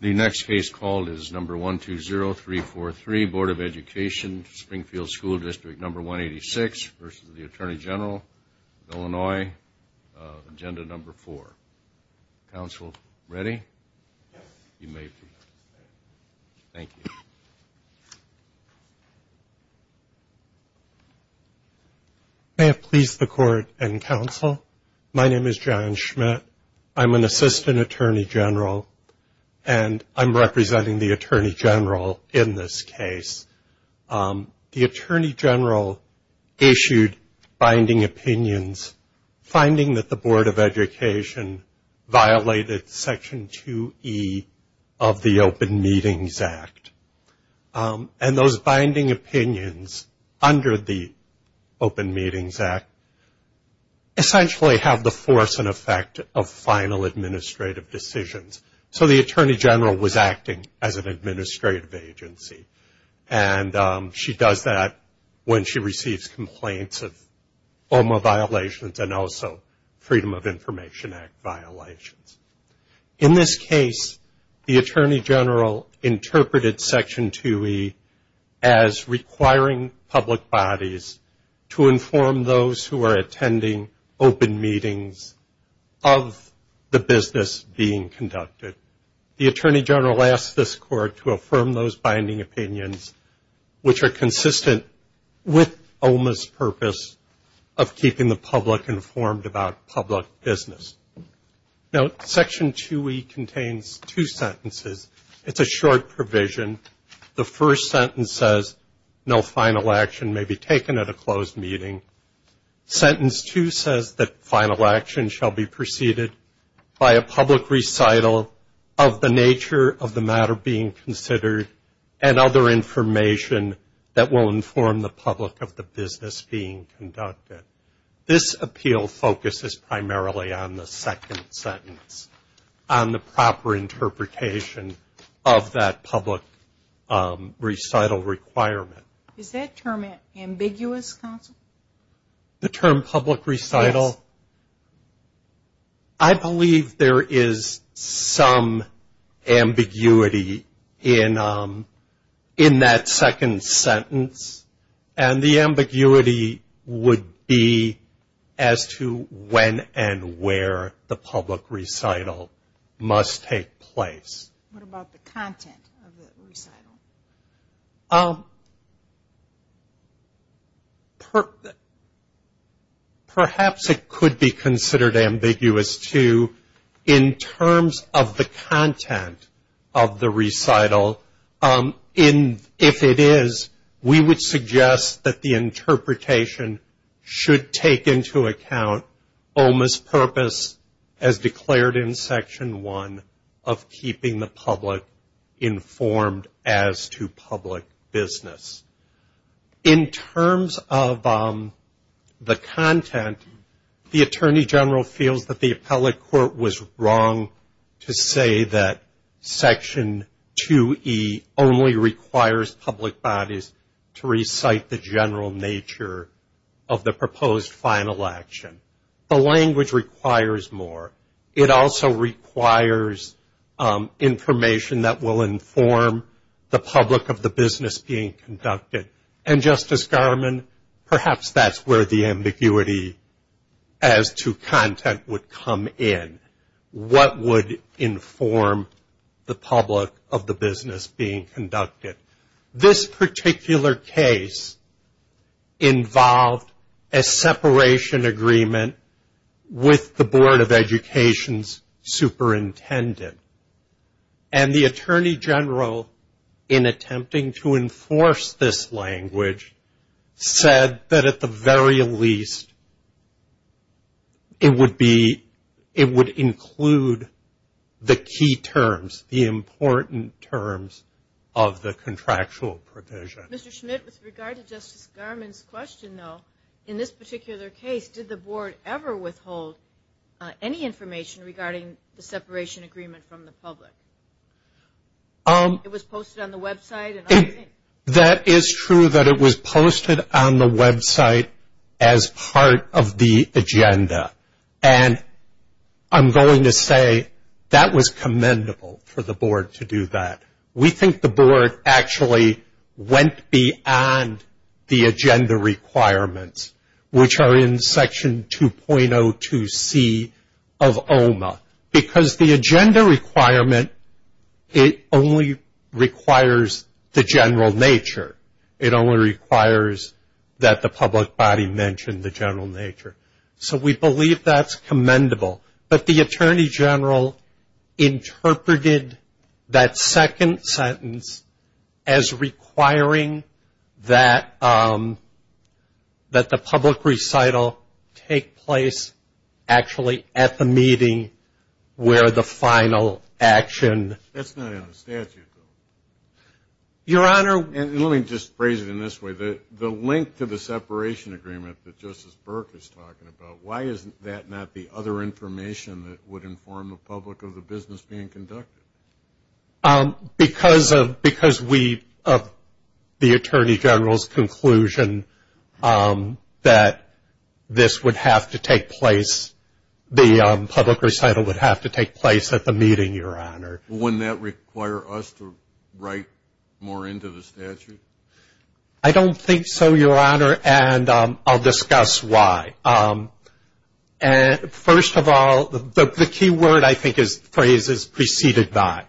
The next case called is No. 120343, Board of Education, Springfield School District No. 186 v. The Attorney General of Illinois, Agenda No. 4. Counsel, ready? You may begin. Thank you. May it please the Court and Counsel, my name is John Schmidt. I'm an Assistant Attorney General, and I'm representing the Attorney General in this case. The Attorney General issued binding opinions finding that the Board of Education violated Section 2E of the Open Meetings Act. And those binding opinions under the Open Meetings Act essentially have the force and effect of final administrative decisions. So the Attorney General was acting as an administrative agency. And she does that when she receives complaints of OMA violations and also Freedom of Information Act violations. In this case, the Attorney General interpreted Section 2E as requiring public bodies to inform those who are attending open meetings of the business being conducted. The Attorney General asked this Court to affirm those binding opinions, which are consistent with OMA's purpose of keeping the public informed about public business. Now, Section 2E contains two sentences. It's a short provision. The first sentence says, no final action may be taken at a closed meeting. Sentence 2 says that final action shall be preceded by a public recital of the nature of the matter being considered and other information that will inform the public of the business being conducted. This appeal focuses primarily on the second sentence, on the proper interpretation of that public recital requirement. Is that term ambiguous, counsel? The term public recital? Yes. I believe there is some ambiguity in that second sentence. And the ambiguity would be as to when and where the public recital must take place. What about the content of the recital? Perhaps it could be considered ambiguous, too, in terms of the content of the recital. If it is, we would suggest that the interpretation should take into account OMA's purpose, as declared in Section 1, of keeping the public informed as to public business. In terms of the content, the Attorney General feels that the appellate court was wrong to say that Section 2E only requires public bodies to recite the general nature of the proposed final action. The language requires more. It also requires information that will inform the public of the business being conducted. And, Justice Garmon, perhaps that's where the ambiguity as to content would come in. What would inform the public of the business being conducted? This particular case involved a separation agreement with the Board of Education's superintendent. And the Attorney General, in attempting to enforce this language, said that at the very least, it would include the key terms, the important terms of the contractual provision. Mr. Schmidt, with regard to Justice Garmon's question, though, in this particular case, did the Board ever withhold any information regarding the separation agreement from the public? It was posted on the website? That is true that it was posted on the website as part of the agenda. And I'm going to say that was commendable for the Board to do that. We think the Board actually went beyond the agenda requirements, which are in Section 2.02C of OMA. Because the agenda requirement, it only requires the general nature. It only requires that the public body mention the general nature. So we believe that's commendable. But the Attorney General interpreted that second sentence as requiring that the public recital take place, actually, at the meeting where the final action. That's not in the statute, though. Your Honor. And let me just phrase it in this way. The link to the separation agreement that Justice Burke is talking about, why is that not the other information that would inform the public of the business being conducted? Because of the Attorney General's conclusion that this would have to take place, the public recital would have to take place at the meeting, Your Honor. Wouldn't that require us to write more into the statute? I don't think so, Your Honor, and I'll discuss why. First of all, the key word, I think, is phrases preceded by.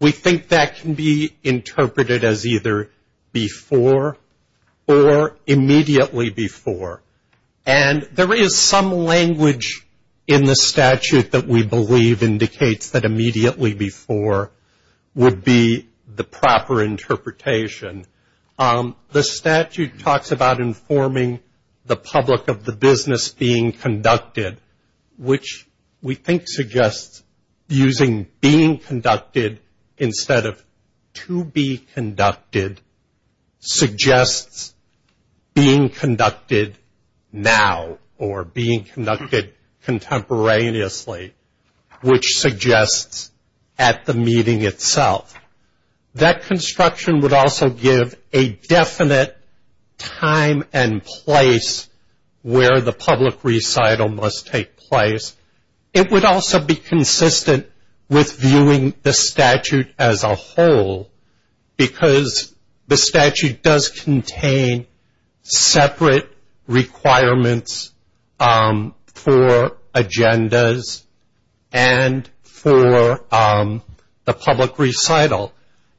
We think that can be interpreted as either before or immediately before. And there is some language in the statute that we believe indicates that immediately before would be the proper interpretation. The statute talks about informing the public of the business being conducted, which we think suggests using being conducted instead of to be conducted suggests being conducted now or being conducted contemporaneously, which suggests at the meeting itself. That construction would also give a definite time and place where the public recital must take place. It would also be consistent with viewing the statute as a whole, because the statute does contain separate requirements for agendas and for the public recital.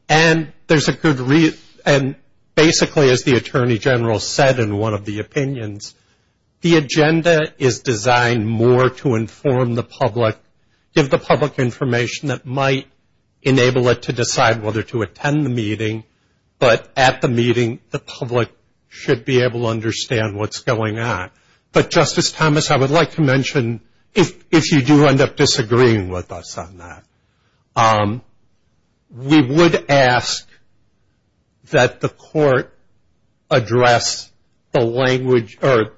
And basically, as the Attorney General said in one of the opinions, the agenda is designed more to inform the public, give the public information that might enable it to decide whether to attend the meeting. But at the meeting, the public should be able to understand what's going on. But, Justice Thomas, I would like to mention, if you do end up disagreeing with us on that, we would ask that the court address the language or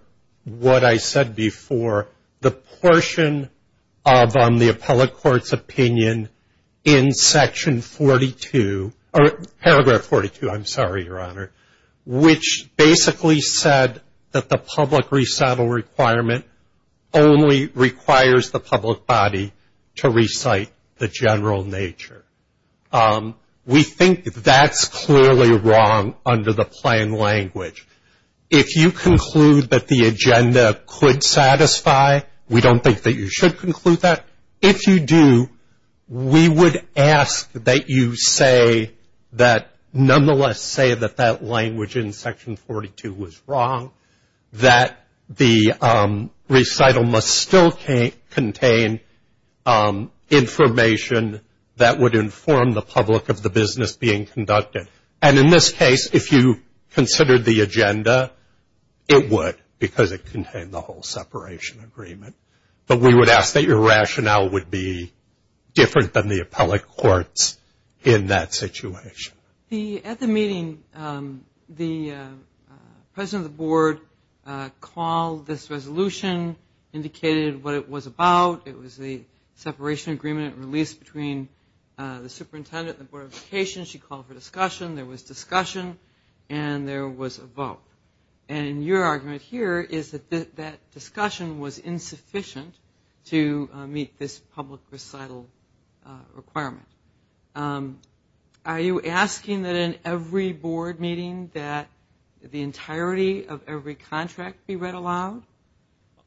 what I said before, the portion of the appellate court's opinion in Section 42, or Paragraph 42, I'm sorry, Your Honor, which basically said that the public recital requirement only requires the public body to recite the general nature. We think that's clearly wrong under the plan language. If you conclude that the agenda could satisfy, we don't think that you should conclude that. If you do, we would ask that you say that, nonetheless say that that language in Section 42 was wrong, that the recital must still contain information that would inform the public of the business being conducted. And in this case, if you considered the agenda, it would, because it contained the whole separation agreement. But we would ask that your rationale would be different than the appellate court's in that situation. At the meeting, the President of the Board called this resolution, indicated what it was about. It was the separation agreement released between the Superintendent and the Board of Education. She called for discussion. And your argument here is that that discussion was insufficient to meet this public recital requirement. Are you asking that in every board meeting that the entirety of every contract be read aloud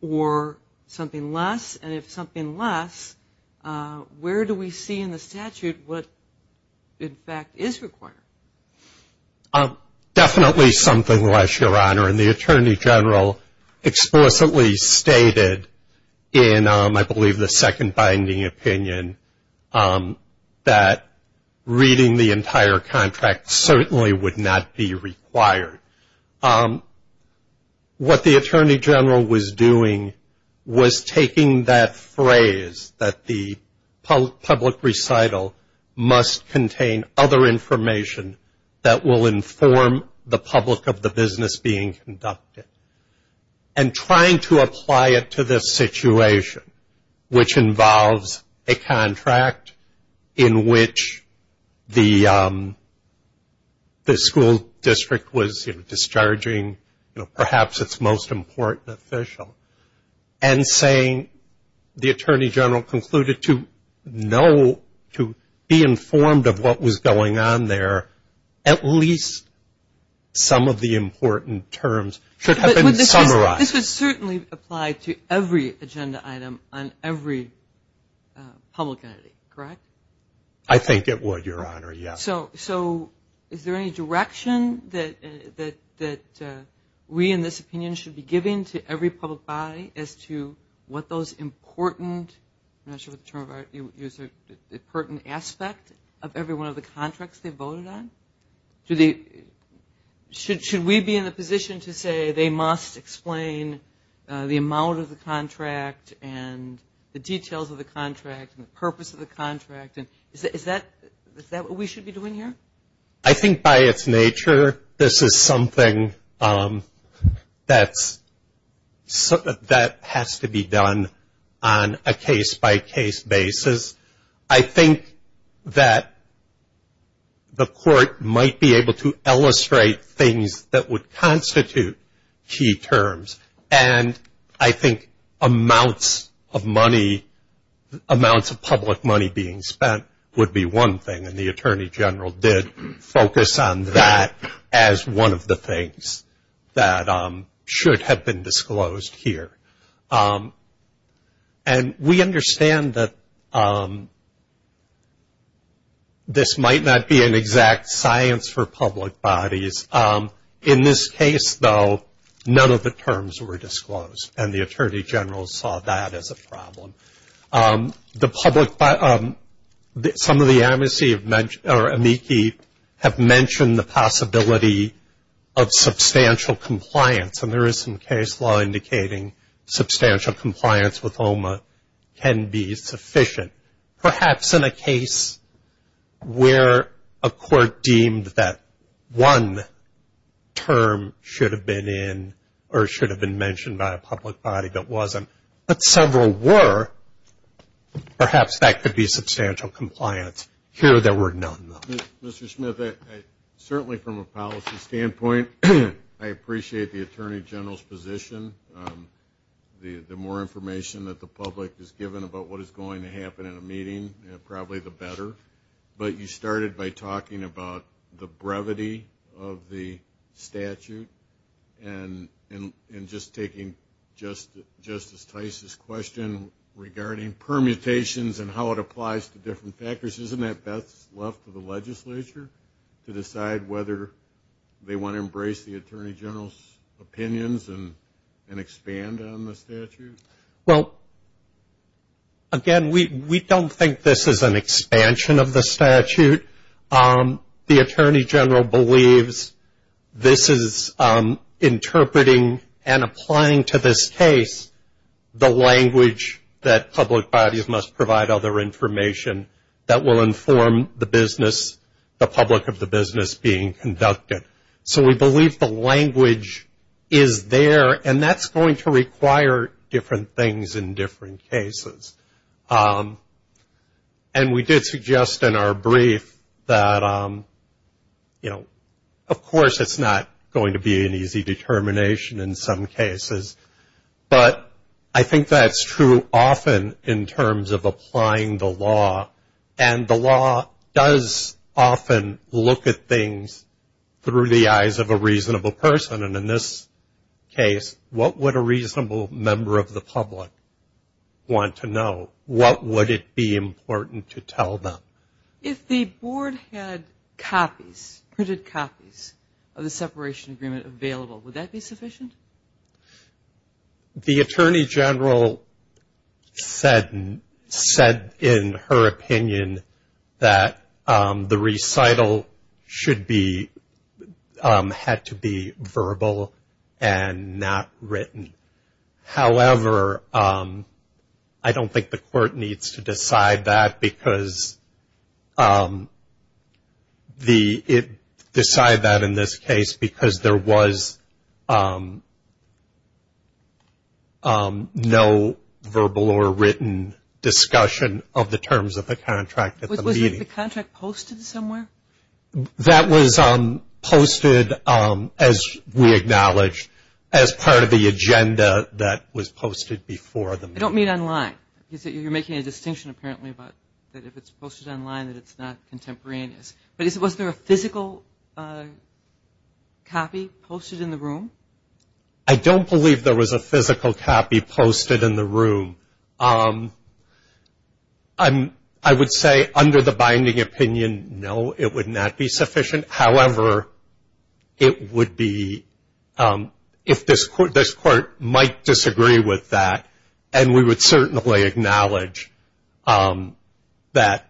or something less? And if something less, where do we see in the statute what, in fact, is required? Definitely something less, Your Honor. And the Attorney General explicitly stated in, I believe, the second binding opinion, that reading the entire contract certainly would not be required. What the Attorney General was doing was taking that phrase, that the public recital must contain other information that will inform the public of the business being conducted, and trying to apply it to this situation, which involves a contract in which the school district was discharging perhaps its most important official, and saying the Attorney General concluded to know, to be informed of what was going on there, that at least some of the important terms should have been summarized. But this would certainly apply to every agenda item on every public entity, correct? I think it would, Your Honor, yes. So is there any direction that we in this opinion should be giving to every public body as to what those important, I'm not sure what the term is, important aspect of every one of the contracts they voted on? Should we be in a position to say they must explain the amount of the contract and the details of the contract and the purpose of the contract? Is that what we should be doing here? I think by its nature, this is something that has to be done on a case-by-case basis. I think that the Court might be able to illustrate things that would constitute key terms, and I think amounts of money, amounts of public money being spent would be one thing, and the Attorney General did focus on that as one of the things that should have been disclosed here. And we understand that this might not be an exact science for public bodies. In this case, though, none of the terms were disclosed, and the Attorney General saw that as a problem. The public, some of the amnesty or amici have mentioned the possibility of substantial compliance, and there is some case law indicating substantial compliance with OMA can be sufficient. Perhaps in a case where a court deemed that one term should have been in or should have been mentioned by a public body that wasn't, but several were, perhaps that could be substantial compliance. Here there were none, though. Mr. Smith, certainly from a policy standpoint, I appreciate the Attorney General's position. The more information that the public is given about what is going to happen in a meeting, probably the better. But you started by talking about the brevity of the statute and just taking Justice Tice's question regarding permutations and how it applies to different factors. Isn't that best left to the legislature to decide whether they want to embrace the Attorney General's opinions and expand on the statute? Well, again, we don't think this is an expansion of the statute. The Attorney General believes this is interpreting and applying to this case the language that public bodies must provide other information that will inform the public of the business being conducted. So we believe the language is there, and that's going to require different things in different cases. And we did suggest in our brief that, you know, of course it's not going to be an easy determination in some cases, but I think that's true often in terms of applying the law. And the law does often look at things through the eyes of a reasonable person. And in this case, what would a reasonable member of the public want to know? What would it be important to tell them? If the Board had copies, printed copies, of the separation agreement available, would that be sufficient? The Attorney General said in her opinion that the recital should be, had to be verbal and not written. However, I don't think the Court needs to decide that because the, decide that in this case, because there was no verbal or written discussion of the terms of the contract at the meeting. Was the contract posted somewhere? That was posted, as we acknowledge, as part of the agenda that was posted before the meeting. I don't mean online. You're making a distinction apparently about that if it's posted online that it's not contemporaneous. But was there a physical copy posted in the room? I don't believe there was a physical copy posted in the room. I would say under the binding opinion, no, it would not be sufficient. However, it would be, if this Court might disagree with that, and we would certainly acknowledge that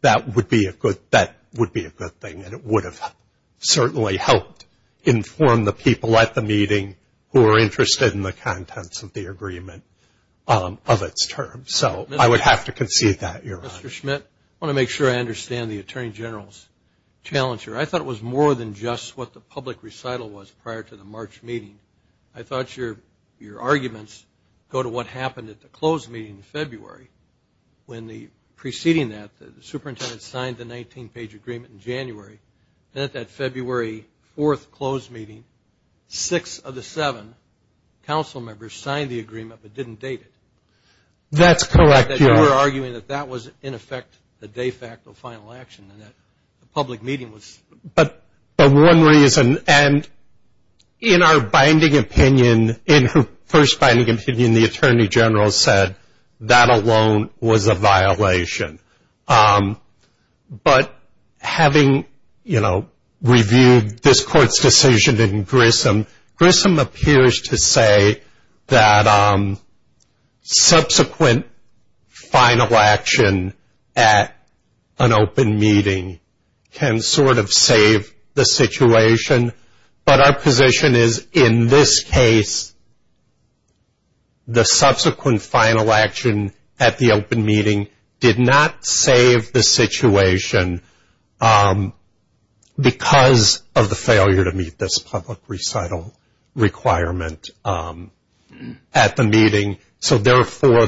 that would be a good thing, and it would have certainly helped inform the people at the meeting who are interested in the contents of the agreement. So I would have to concede that, Your Honor. Mr. Schmidt, I want to make sure I understand the Attorney General's challenge here. I thought it was more than just what the public recital was prior to the March meeting. I thought your arguments go to what happened at the closed meeting in February. When preceding that, the superintendent signed the 19-page agreement in January. Then at that February 4th closed meeting, six of the seven council members signed the agreement but didn't date it. That's correct, Your Honor. You were arguing that that was, in effect, the de facto final action and that the public meeting was. But one reason, and in our binding opinion, in her first binding opinion, but having reviewed this Court's decision in Grissom, Grissom appears to say that subsequent final action at an open meeting can sort of save the situation. But our position is, in this case, the subsequent final action at the open meeting did not save the situation because of the failure to meet this public recital requirement at the meeting. So, therefore,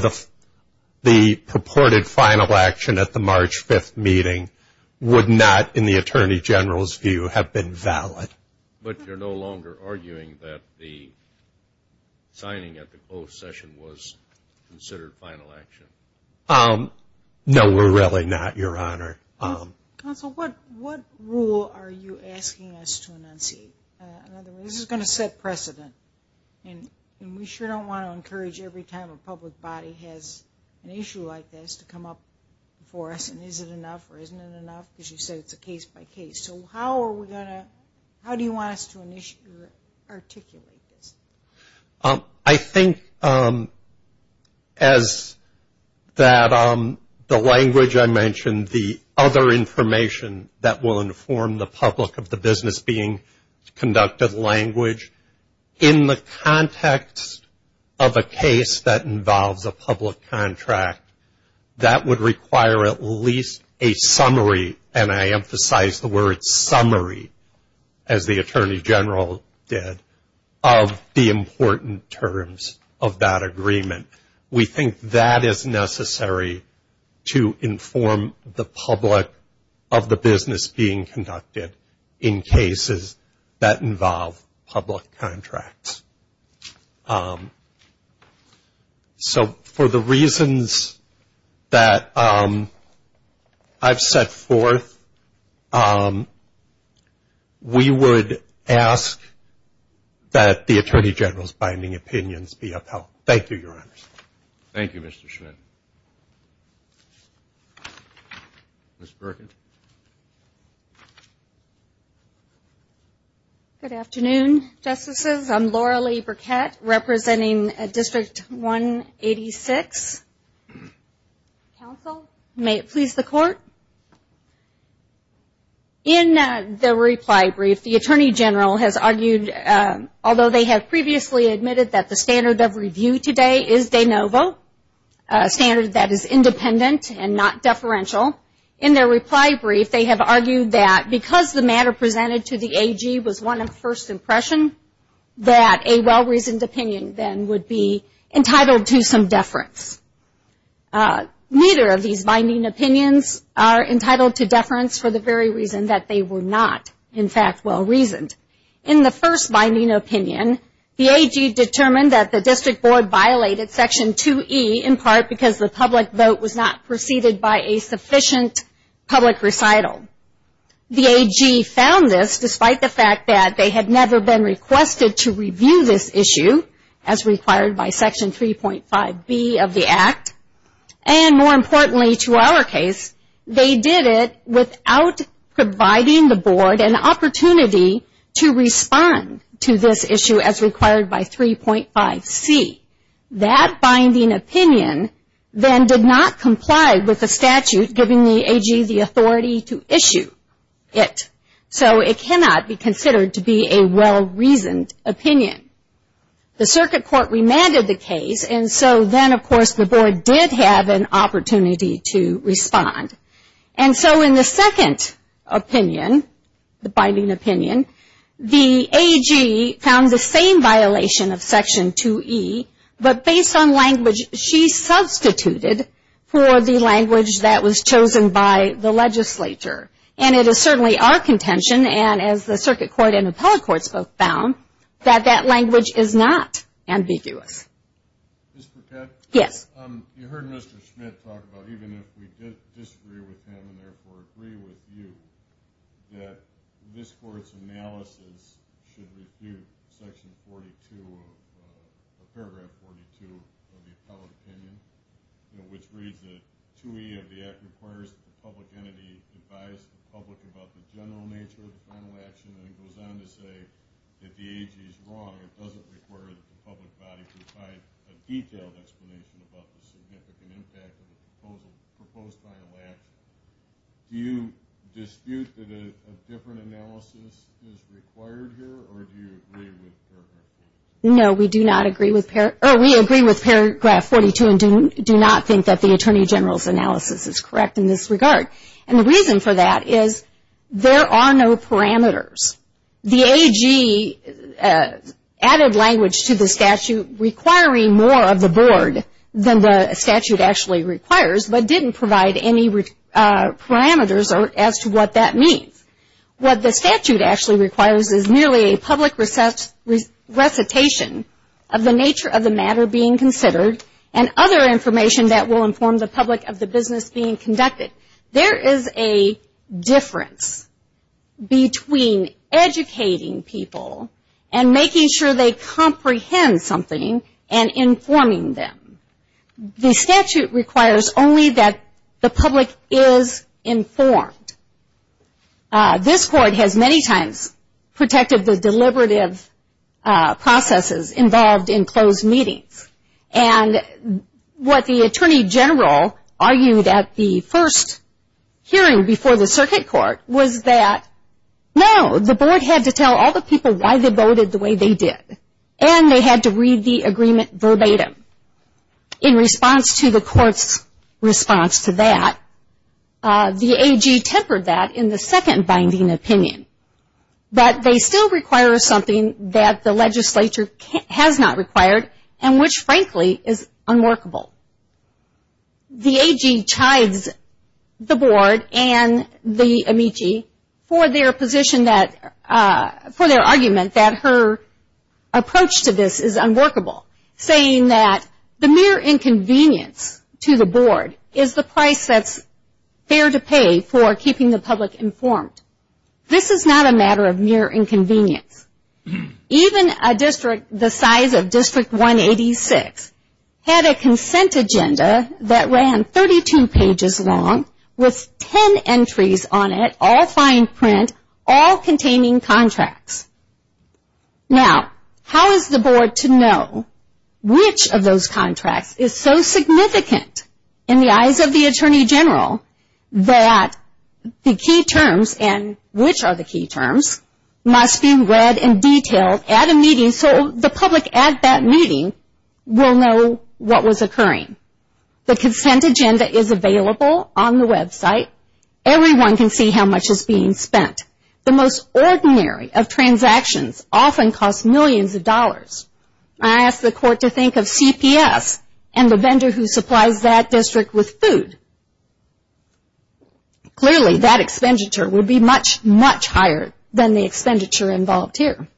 the purported final action at the March 5th meeting would not, in the Attorney General's view, have been valid. But you're no longer arguing that the signing at the closed session was considered final action? No, we're really not, Your Honor. Counsel, what rule are you asking us to enunciate? This is going to set precedent, and we sure don't want to encourage every time a public body has an issue like this to come up before us and, is it enough or isn't it enough? Because you said it's a case-by-case. So how are we going to, how do you want us to articulate this? I think as that, the language I mentioned, and the other information that will inform the public of the business being conducted language, in the context of a case that involves a public contract, that would require at least a summary, and I emphasize the word summary, as the Attorney General did, of the important terms of that agreement. We think that is necessary to inform the public of the business being conducted in cases that involve public contracts. So for the reasons that I've set forth, we would ask that the Attorney General's binding opinions be upheld. Thank you, Your Honor. Thank you, Mr. Schmidt. Ms. Burkett. Good afternoon, Justices. I'm Laura Lee Burkett, representing District 186. Counsel, may it please the Court. In the reply brief, the Attorney General has argued, although they have previously admitted that the standard of review today is de novo, a standard that is independent and not deferential, in their reply brief, they have argued that because the matter presented to the AG was one of first impression, that a well-reasoned opinion then would be entitled to some deference. Neither of these binding opinions are entitled to deference for the very reason that they were not, in fact, well-reasoned. In the first binding opinion, the AG determined that the District Board violated Section 2E, in part because the public vote was not preceded by a sufficient public recital. The AG found this despite the fact that they had never been requested to review this issue, as required by Section 3.5B of the Act, and more importantly to our case, they did it without providing the Board an opportunity to respond to this issue as required by 3.5C. That binding opinion then did not comply with the statute giving the AG the authority to issue it. So, it cannot be considered to be a well-reasoned opinion. The Circuit Court remanded the case, and so then, of course, the Board did have an opportunity to respond. And so, in the second opinion, the binding opinion, the AG found the same violation of Section 2E, but based on language she substituted for the language that was chosen by the legislature. And it is certainly our contention, and as the Circuit Court and Appellate Courts both found, that that language is not ambiguous. Ms. Burkett? Yes. You heard Mr. Schmidt talk about, even if we disagree with him and therefore agree with you, that this Court's analysis should refute Section 42 of Paragraph 42 of the Appellate Opinion, which reads that 2E of the Act requires that the public entity advise the public about the general nature of the final action, and then goes on to say that the AG is wrong. It doesn't require that the public body provide a detailed explanation about the significant impact of the proposed final action. Do you dispute that a different analysis is required here, or do you agree with Paragraph 42? No, we do not agree with Paragraph 42, and do not think that the Attorney General's analysis is correct in this regard. And the reason for that is there are no parameters. The AG added language to the statute requiring more of the board than the statute actually requires, but didn't provide any parameters as to what that means. What the statute actually requires is merely a public recitation of the nature of the matter being considered and other information that will inform the public of the business being conducted. There is a difference between educating people and making sure they comprehend something and informing them. The statute requires only that the public is informed. This Court has many times protected the deliberative processes involved in closed meetings, and what the Attorney General argued at the first hearing before the Circuit Court was that, no, the board had to tell all the people why they voted the way they did, and they had to read the agreement verbatim. In response to the Court's response to that, the AG tempered that in the second binding opinion. But they still require something that the legislature has not required, and which, frankly, is unworkable. The AG tithes the board and the amici for their argument that her approach to this is unworkable, saying that the mere inconvenience to the board is the price that's fair to pay for keeping the public informed. This is not a matter of mere inconvenience. Even a district the size of District 186 had a consent agenda that ran 32 pages long with 10 entries on it, all fine print, all containing contracts. Now, how is the board to know which of those contracts is so significant in the eyes of the Attorney General that the key terms, and which are the key terms, must be read and detailed at a meeting so the public at that meeting will know what was occurring? The consent agenda is available on the website. Everyone can see how much is being spent. The most ordinary of transactions often cost millions of dollars. I ask the court to think of CPS and the vendor who supplies that district with food. Clearly, that expenditure would be much, much higher than the expenditure involved here.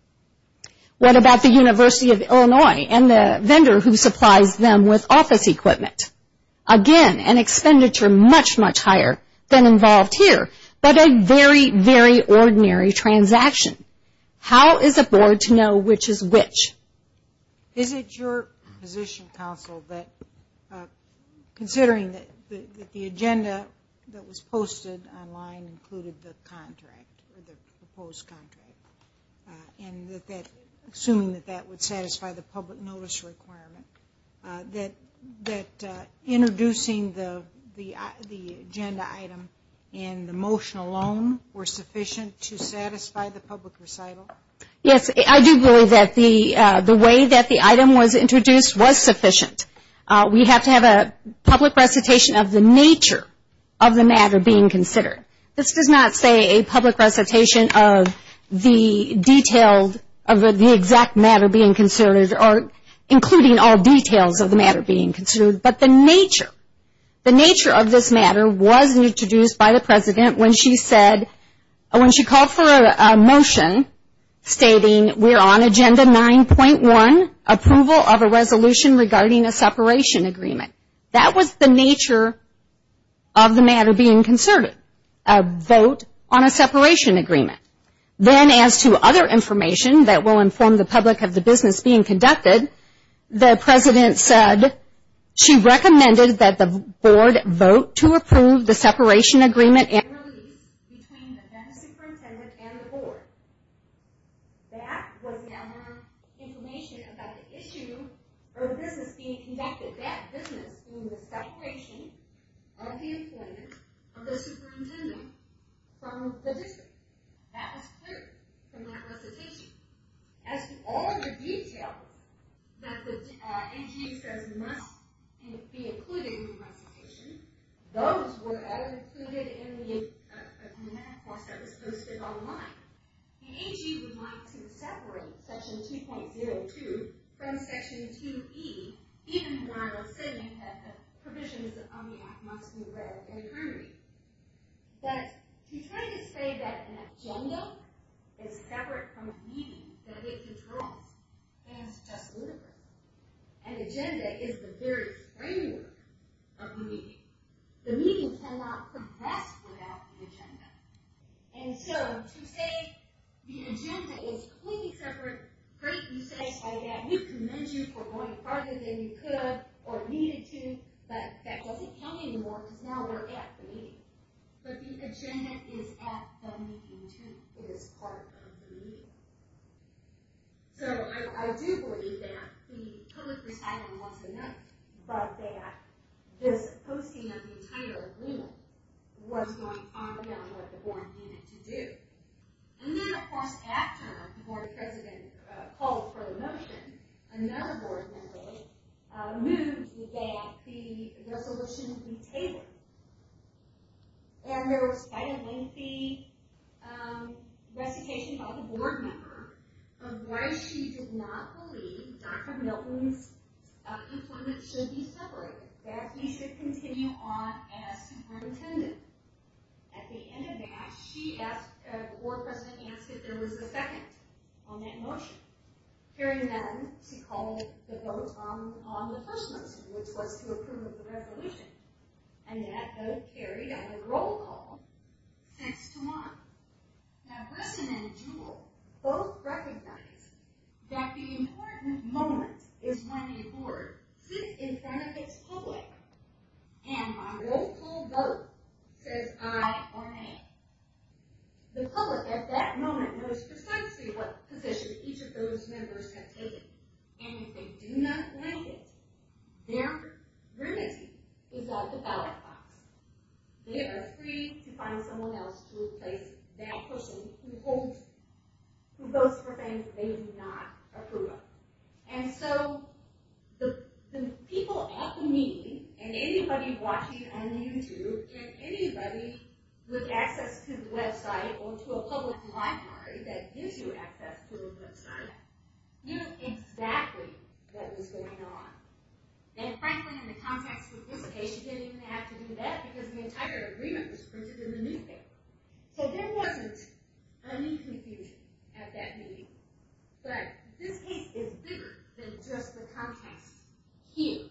What about the University of Illinois and the vendor who supplies them with office equipment? Again, an expenditure much, much higher than involved here, but a very, very ordinary transaction. How is a board to know which is which? Is it your position, counsel, that considering that the agenda that was posted online included the contract, or the proposed contract, and assuming that that would satisfy the public notice requirement, that introducing the agenda item in the motion alone were sufficient to satisfy the public recital? Yes, I do believe that the way that the item was introduced was sufficient. We have to have a public recitation of the nature of the matter being considered. This does not say a public recitation of the detailed, of the exact matter being considered, or including all details of the matter being considered, but the nature. The nature of this matter was introduced by the President when she said, when she called for a motion stating, we're on agenda 9.1, approval of a resolution regarding a separation agreement. That was the nature of the matter being considered, a vote on a separation agreement. Then as to other information that will inform the public of the business being conducted, the President said she recommended that the board vote to approve the separation agreement. between the then superintendent and the board. That was the amount of information about the issue, or the business being conducted. That business was the separation of the employment of the superintendent from the district. That was clear from that recitation. As to all of the detail that the NGA says must be included in the recitation, those were not included in the math course that was posted online. The NGA would like to separate section 2.02 from section 2E, even while Sidney had the provisions on the act must be read and agreed. But to try to say that an agenda is separate from a meeting, that it controls, is just ludicrous. An agenda is the very framework of the meeting. The meeting cannot progress without the agenda. And so to say the agenda is completely separate, great you say it like that, we commend you for going farther than you could or needed to, but that doesn't count anymore because now we're at the meeting. But the agenda is at the meeting too, it is part of the meeting. So I do believe that the public responded once again, but that this posting of the entire agreement was going farther than what the board needed to do. And then of course after the Board of President called for the motion, another board member moved that the resolution be tabled. And there was quite a lengthy recitation by the board member of why she did not believe Dr. Milton's employment should be separated, that he should continue on as superintendent. At the end of that, the board president asked if there was a second on that motion, caring then to call the vote on the first motion, which was to approve the resolution. And that vote carried on a roll call since tomorrow. Now Grissom and Jewell both recognized that the important moment is when the board sits in front of its public and on roll call vote says aye or nay. The public at that moment knows precisely what position each of those members have taken. And if they do not like it, their remedy is at the ballot box. They are free to find someone else to replace that person who goes for things they do not approve of. And so the people at the meeting and anybody watching on YouTube and anybody with access to the website or to a public library that gives you access to the website knew exactly what was going on. And frankly in the context of this case, you didn't even have to do that because the entire agreement was printed in the newspaper. So there wasn't any confusion at that meeting. But this case is bigger than just the context here.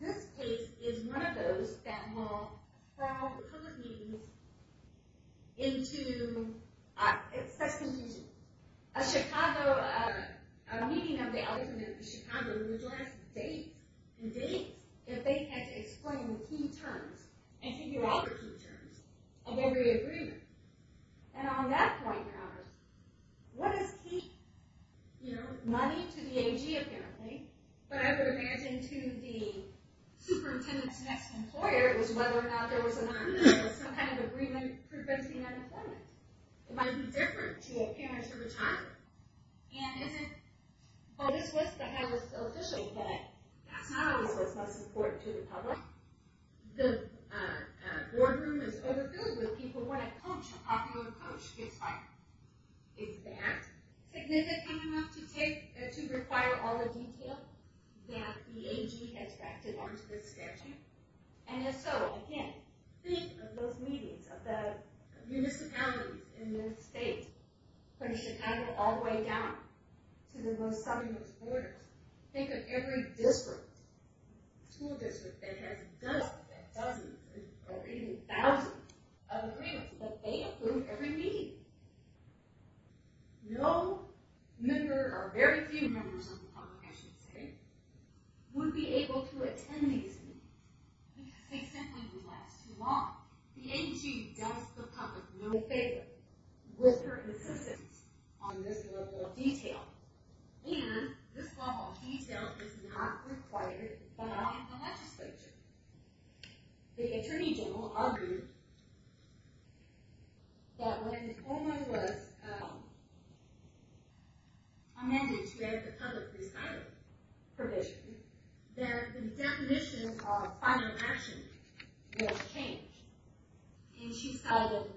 This case is one of those that will crowd public meetings into... It's such confusion. A meeting of the Elders in Chicago would last days and days if they had to explain key terms and figure out the key terms of every agreement. And on that point, Howard, what is key? Money to the AG apparently. But I would imagine to the superintendent's next employer was whether or not there was some kind of agreement preventing unemployment. It might be different to a parent or a child. And isn't... Oh, this list I have is official, but that's not always what's most important to the public. The boardroom is overfilled with people who want to coach a popular coach. It's like... Is that significant enough to require all the details that the AG has drafted onto this schedule? And if so, again, think of those meetings of the municipalities in the state from Chicago all the way down to the Los Alamos borders. Think of every district, school district, that has dozens or even thousands of agreements. But they approve every meeting. No member or very few members of the public, I should say, would be able to attend these meetings because they simply would last too long. The AG does the public no favor with her insistence on this level of detail. And this level of detail is not required by the legislature. The Attorney General argued that when it was amended to add the public prescriber provision, that the definitions of final action would change. And she settled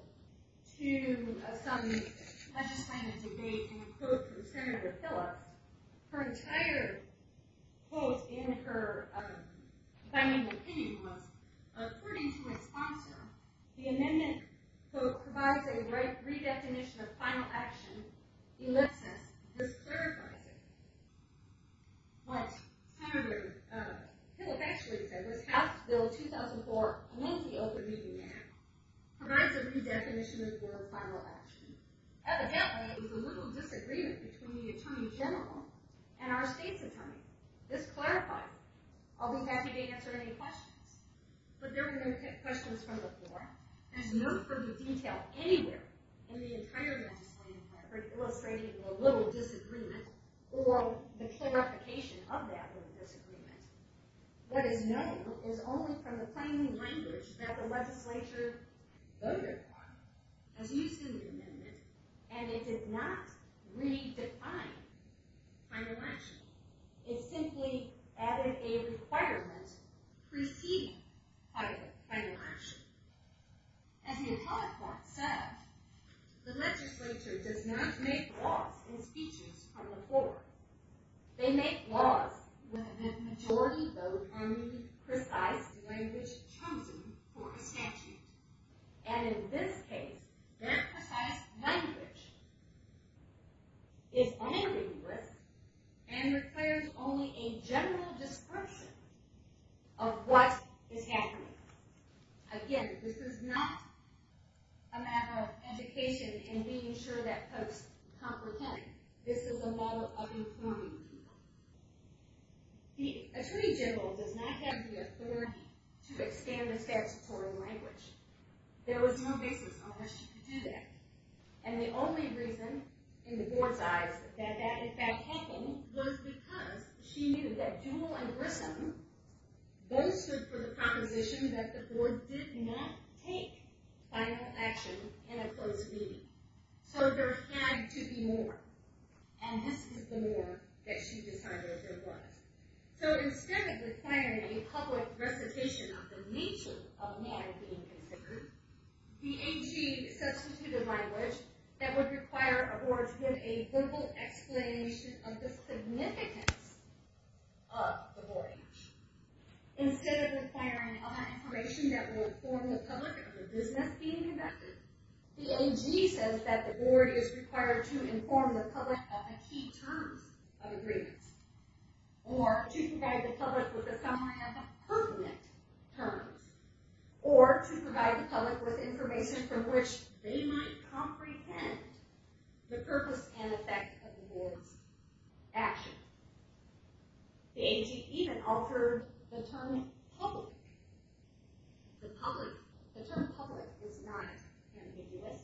to some legislative debate and a quote from Senator Phillips. Her entire quote and her final opinion was, according to my sponsor, the amendment provides a re-definition of final action elicits this clarification. What Senator Phillips actually said was, House Bill 2004, a monthly open meeting act, provides a re-definition of the word final action. Evidently, there was a little disagreement between the Attorney General and our state's attorney. This clarified it. I'll be happy to answer any questions. But there were no questions from the floor. There's no further detail anywhere in the entire legislative framework illustrating the little disagreement or the clarification of that little disagreement. What is known is only from the plain language that the legislature, though required, has used in the amendment and it did not re-define final action. It simply added a requirement preceding final action. As the appellate court said, the legislature does not make laws in speeches from the floor. They make laws with the majority vote only precise language chosen for a statute. And in this case, that precise language is all in English and requires only a general description of what is happening. Again, this is not a matter of education and being sure that folks comprehend it. This is a matter of informing people. The Attorney General does not have the authority to expand the statutory language. There was no basis on which she could do that. And the only reason, in the board's eyes, that that in fact happened was because she knew that Jewell and Grissom boasted for the proposition that the board did not take final action in a closed meeting. So there had to be more. And this is the more that she decided there was. So instead of requiring a public recitation of the nature of matters being considered, the AG substituted language that would require a board to give a simple explanation of the significance of the board. Instead of requiring other information that would inform the public of the business being conducted, the AG says that the board is required to inform the public of the key terms of agreements, or to provide the public with a summary of the permanent terms, or to provide the public with information from which they might comprehend the purpose and effect of the board's action. The AG even altered the term public. The term public is not ambiguous.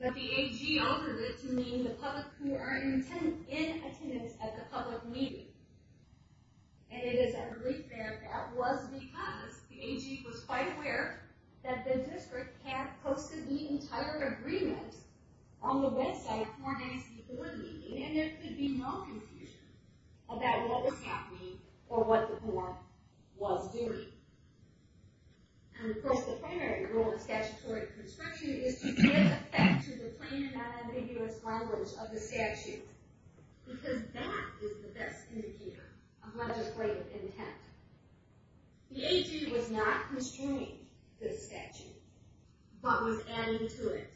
But the AG altered it to mean the public who are in attendance at the public meeting. And it is a relief there that that was because the AG was quite aware that the district had posted the entire agreement on the website for an AC board meeting, and there could be no confusion about what was happening or what the board was doing. And of course the primary rule of statutory construction is to give effect to the plain and non-ambiguous language of the statute, because that is the best indicator of legislative intent. The AG was not constraining the statute, but was adding to it.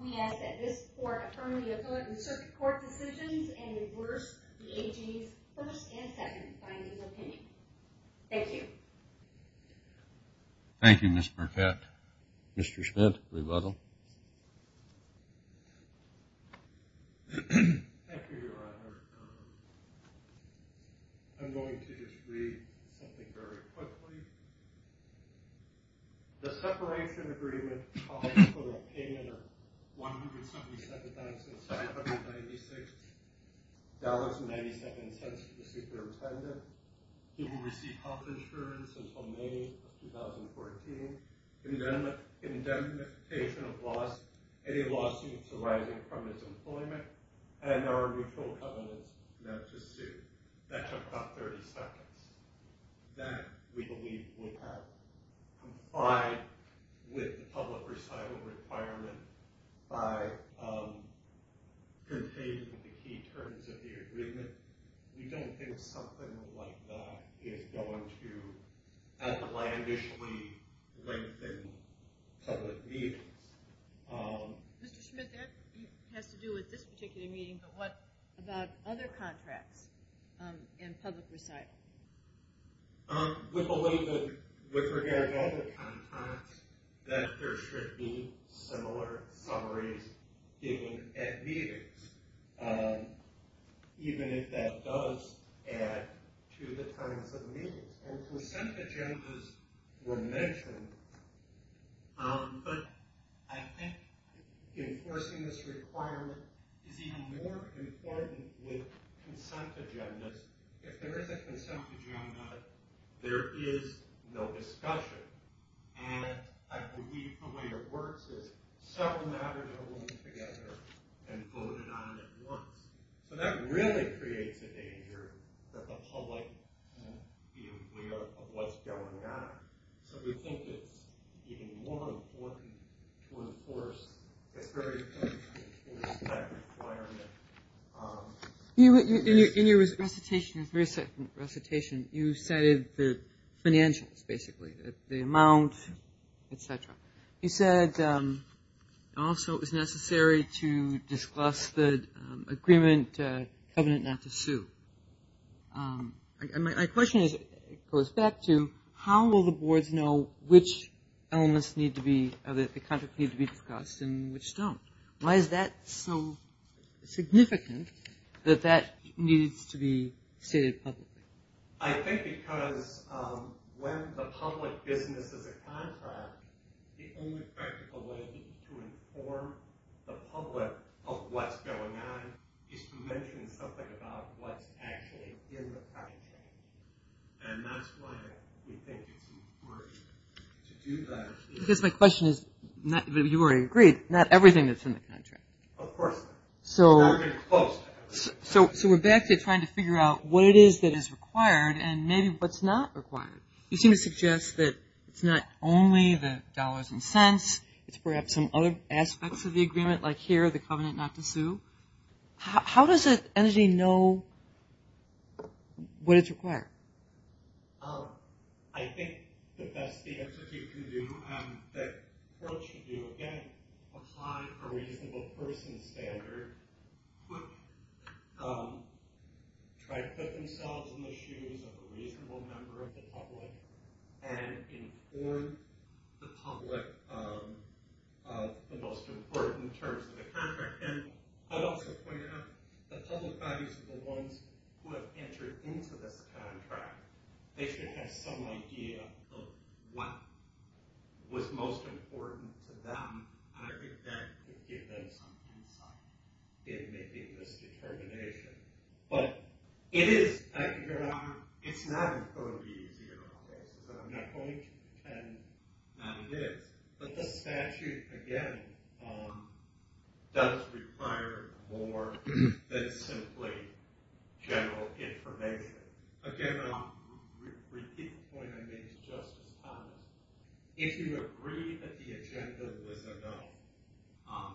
We ask that this court affirm the appellate and circuit court decisions, and reverse the AG's first and second findings opinion. Thank you. Thank you, Ms. Burkett. Mr. Schmidt, rebuttal. Thank you, Your Honor. I'm going to just read something very quickly. The separation agreement calls for a payment of $177,796.92 to the superintendent, who will receive health insurance until May of 2014, indemnification of any lawsuits arising from his employment, and there are mutual covenants now to sue. That took about 30 seconds. That we believe would have complied with the public recital requirement by containing the key terms of the agreement. We don't think something like that is going to ambitiously lengthen public meetings. Mr. Schmidt, that has to do with this particular meeting, but what about other contracts in public recital? We believe that with regard to other contracts, that there should be similar summaries given at meetings, even if that does add to the terms of the meetings. And percent agendas were mentioned, but I think enforcing this requirement is even more important with consent agendas. If there is a consent agenda, there is no discussion, and I believe the way it works is several matters are ruled together and voted on at once. So that really creates a danger for the public view of what's going on. So we think it's even more important to enforce this kind of requirement. In your recitation, you cited the financials, basically, the amount, et cetera. You said also it was necessary to discuss the agreement covenant not to sue. My question goes back to how will the boards know which elements need to be discussed and which don't? Why is that so significant that that needs to be stated publicly? I think because when the public business is a contract, the only practical way to inform the public of what's going on is to mention something about what's actually in the contract. And that's why we think it's important to do that. Because my question is, you already agreed, not everything that's in the contract. Of course not. It's not even close to everything. So we're back to trying to figure out what it is that is required and maybe what's not required. It's perhaps some other aspects of the agreement, like here, the covenant not to sue. How does an entity know what it's required? I think the best the Institute can do, and the world should do, again, apply a reasonable person standard. Try to put themselves in the shoes of a reasonable member of the public and inform the public of the most important terms of the contract. And I'd also point out the public bodies are the ones who have entered into this contract. They should have some idea of what was most important to them. And I think that could give them some insight in making this determination. But it's not going to be easy at all. So I'm not going to pretend that it is. But the statute, again, does require more than simply general information. Again, I'll repeat the point I made to Justice Collins. If you agree that the agenda was a no,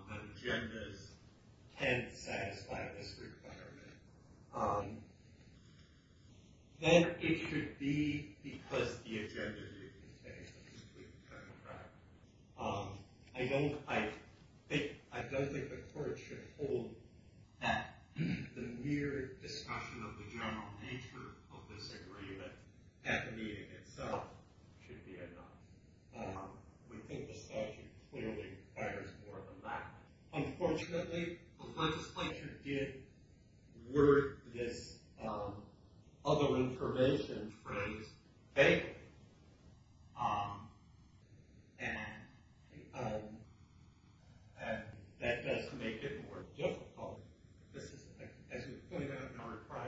that agendas can't satisfy this requirement, then it should be because the agenda didn't contain something to do with the contract. I don't think the Court should hold that the mere discussion of the general nature of this agreement at the meeting itself should be a no. We think the statute clearly requires more than that. Unfortunately, the legislature did word this other information phrase vaguely. And that does make it more difficult. As we pointed out in our reply,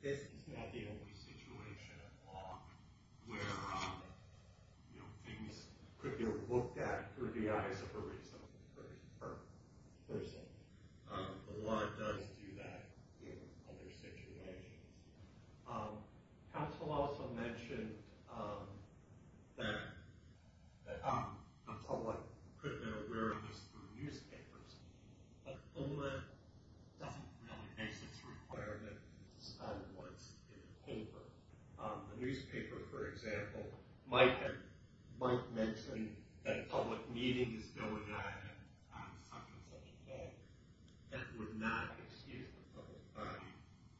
this is not the only situation at law where things could be looked at through the eyes of a reasonable person. The law does do that in other situations. Counsel also mentioned that the public could be aware of this through newspapers. But OMA doesn't really make this a requirement. It's not what's in the paper. A newspaper, for example, might mention that a public meeting is going on that would not excuse the public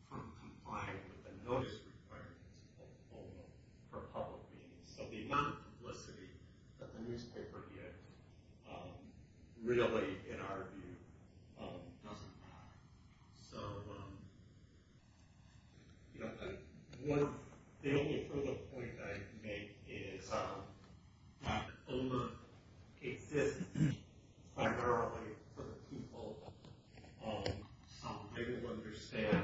from complying with the notice requirements of OMA for public meetings. So the amount of publicity that the newspaper gets really, in our view, doesn't matter. The only further point I can make is that OMA exists primarily for the people. So I don't understand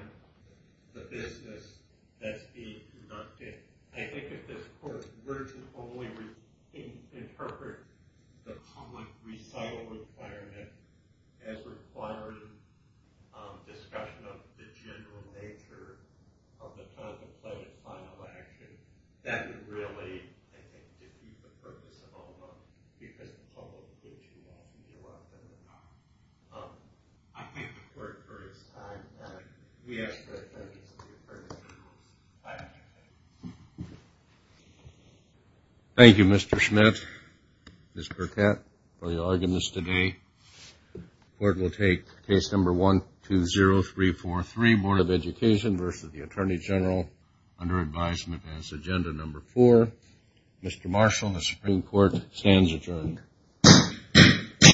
the business that's being conducted. I think if this court were to only interpret the public recital requirement as requiring discussion of the general nature of the contemplated final action, that would really, I think, defeat the purpose of OMA, because the public would get too happy to deal with it. I thank the court for its time. Thank you, Mr. Schmidt, Ms. Burkett, for your arguments today. The court will take case number 120343, Board of Education versus the Attorney General, under advisement as agenda number four. Mr. Marshall, the Supreme Court stands adjourned.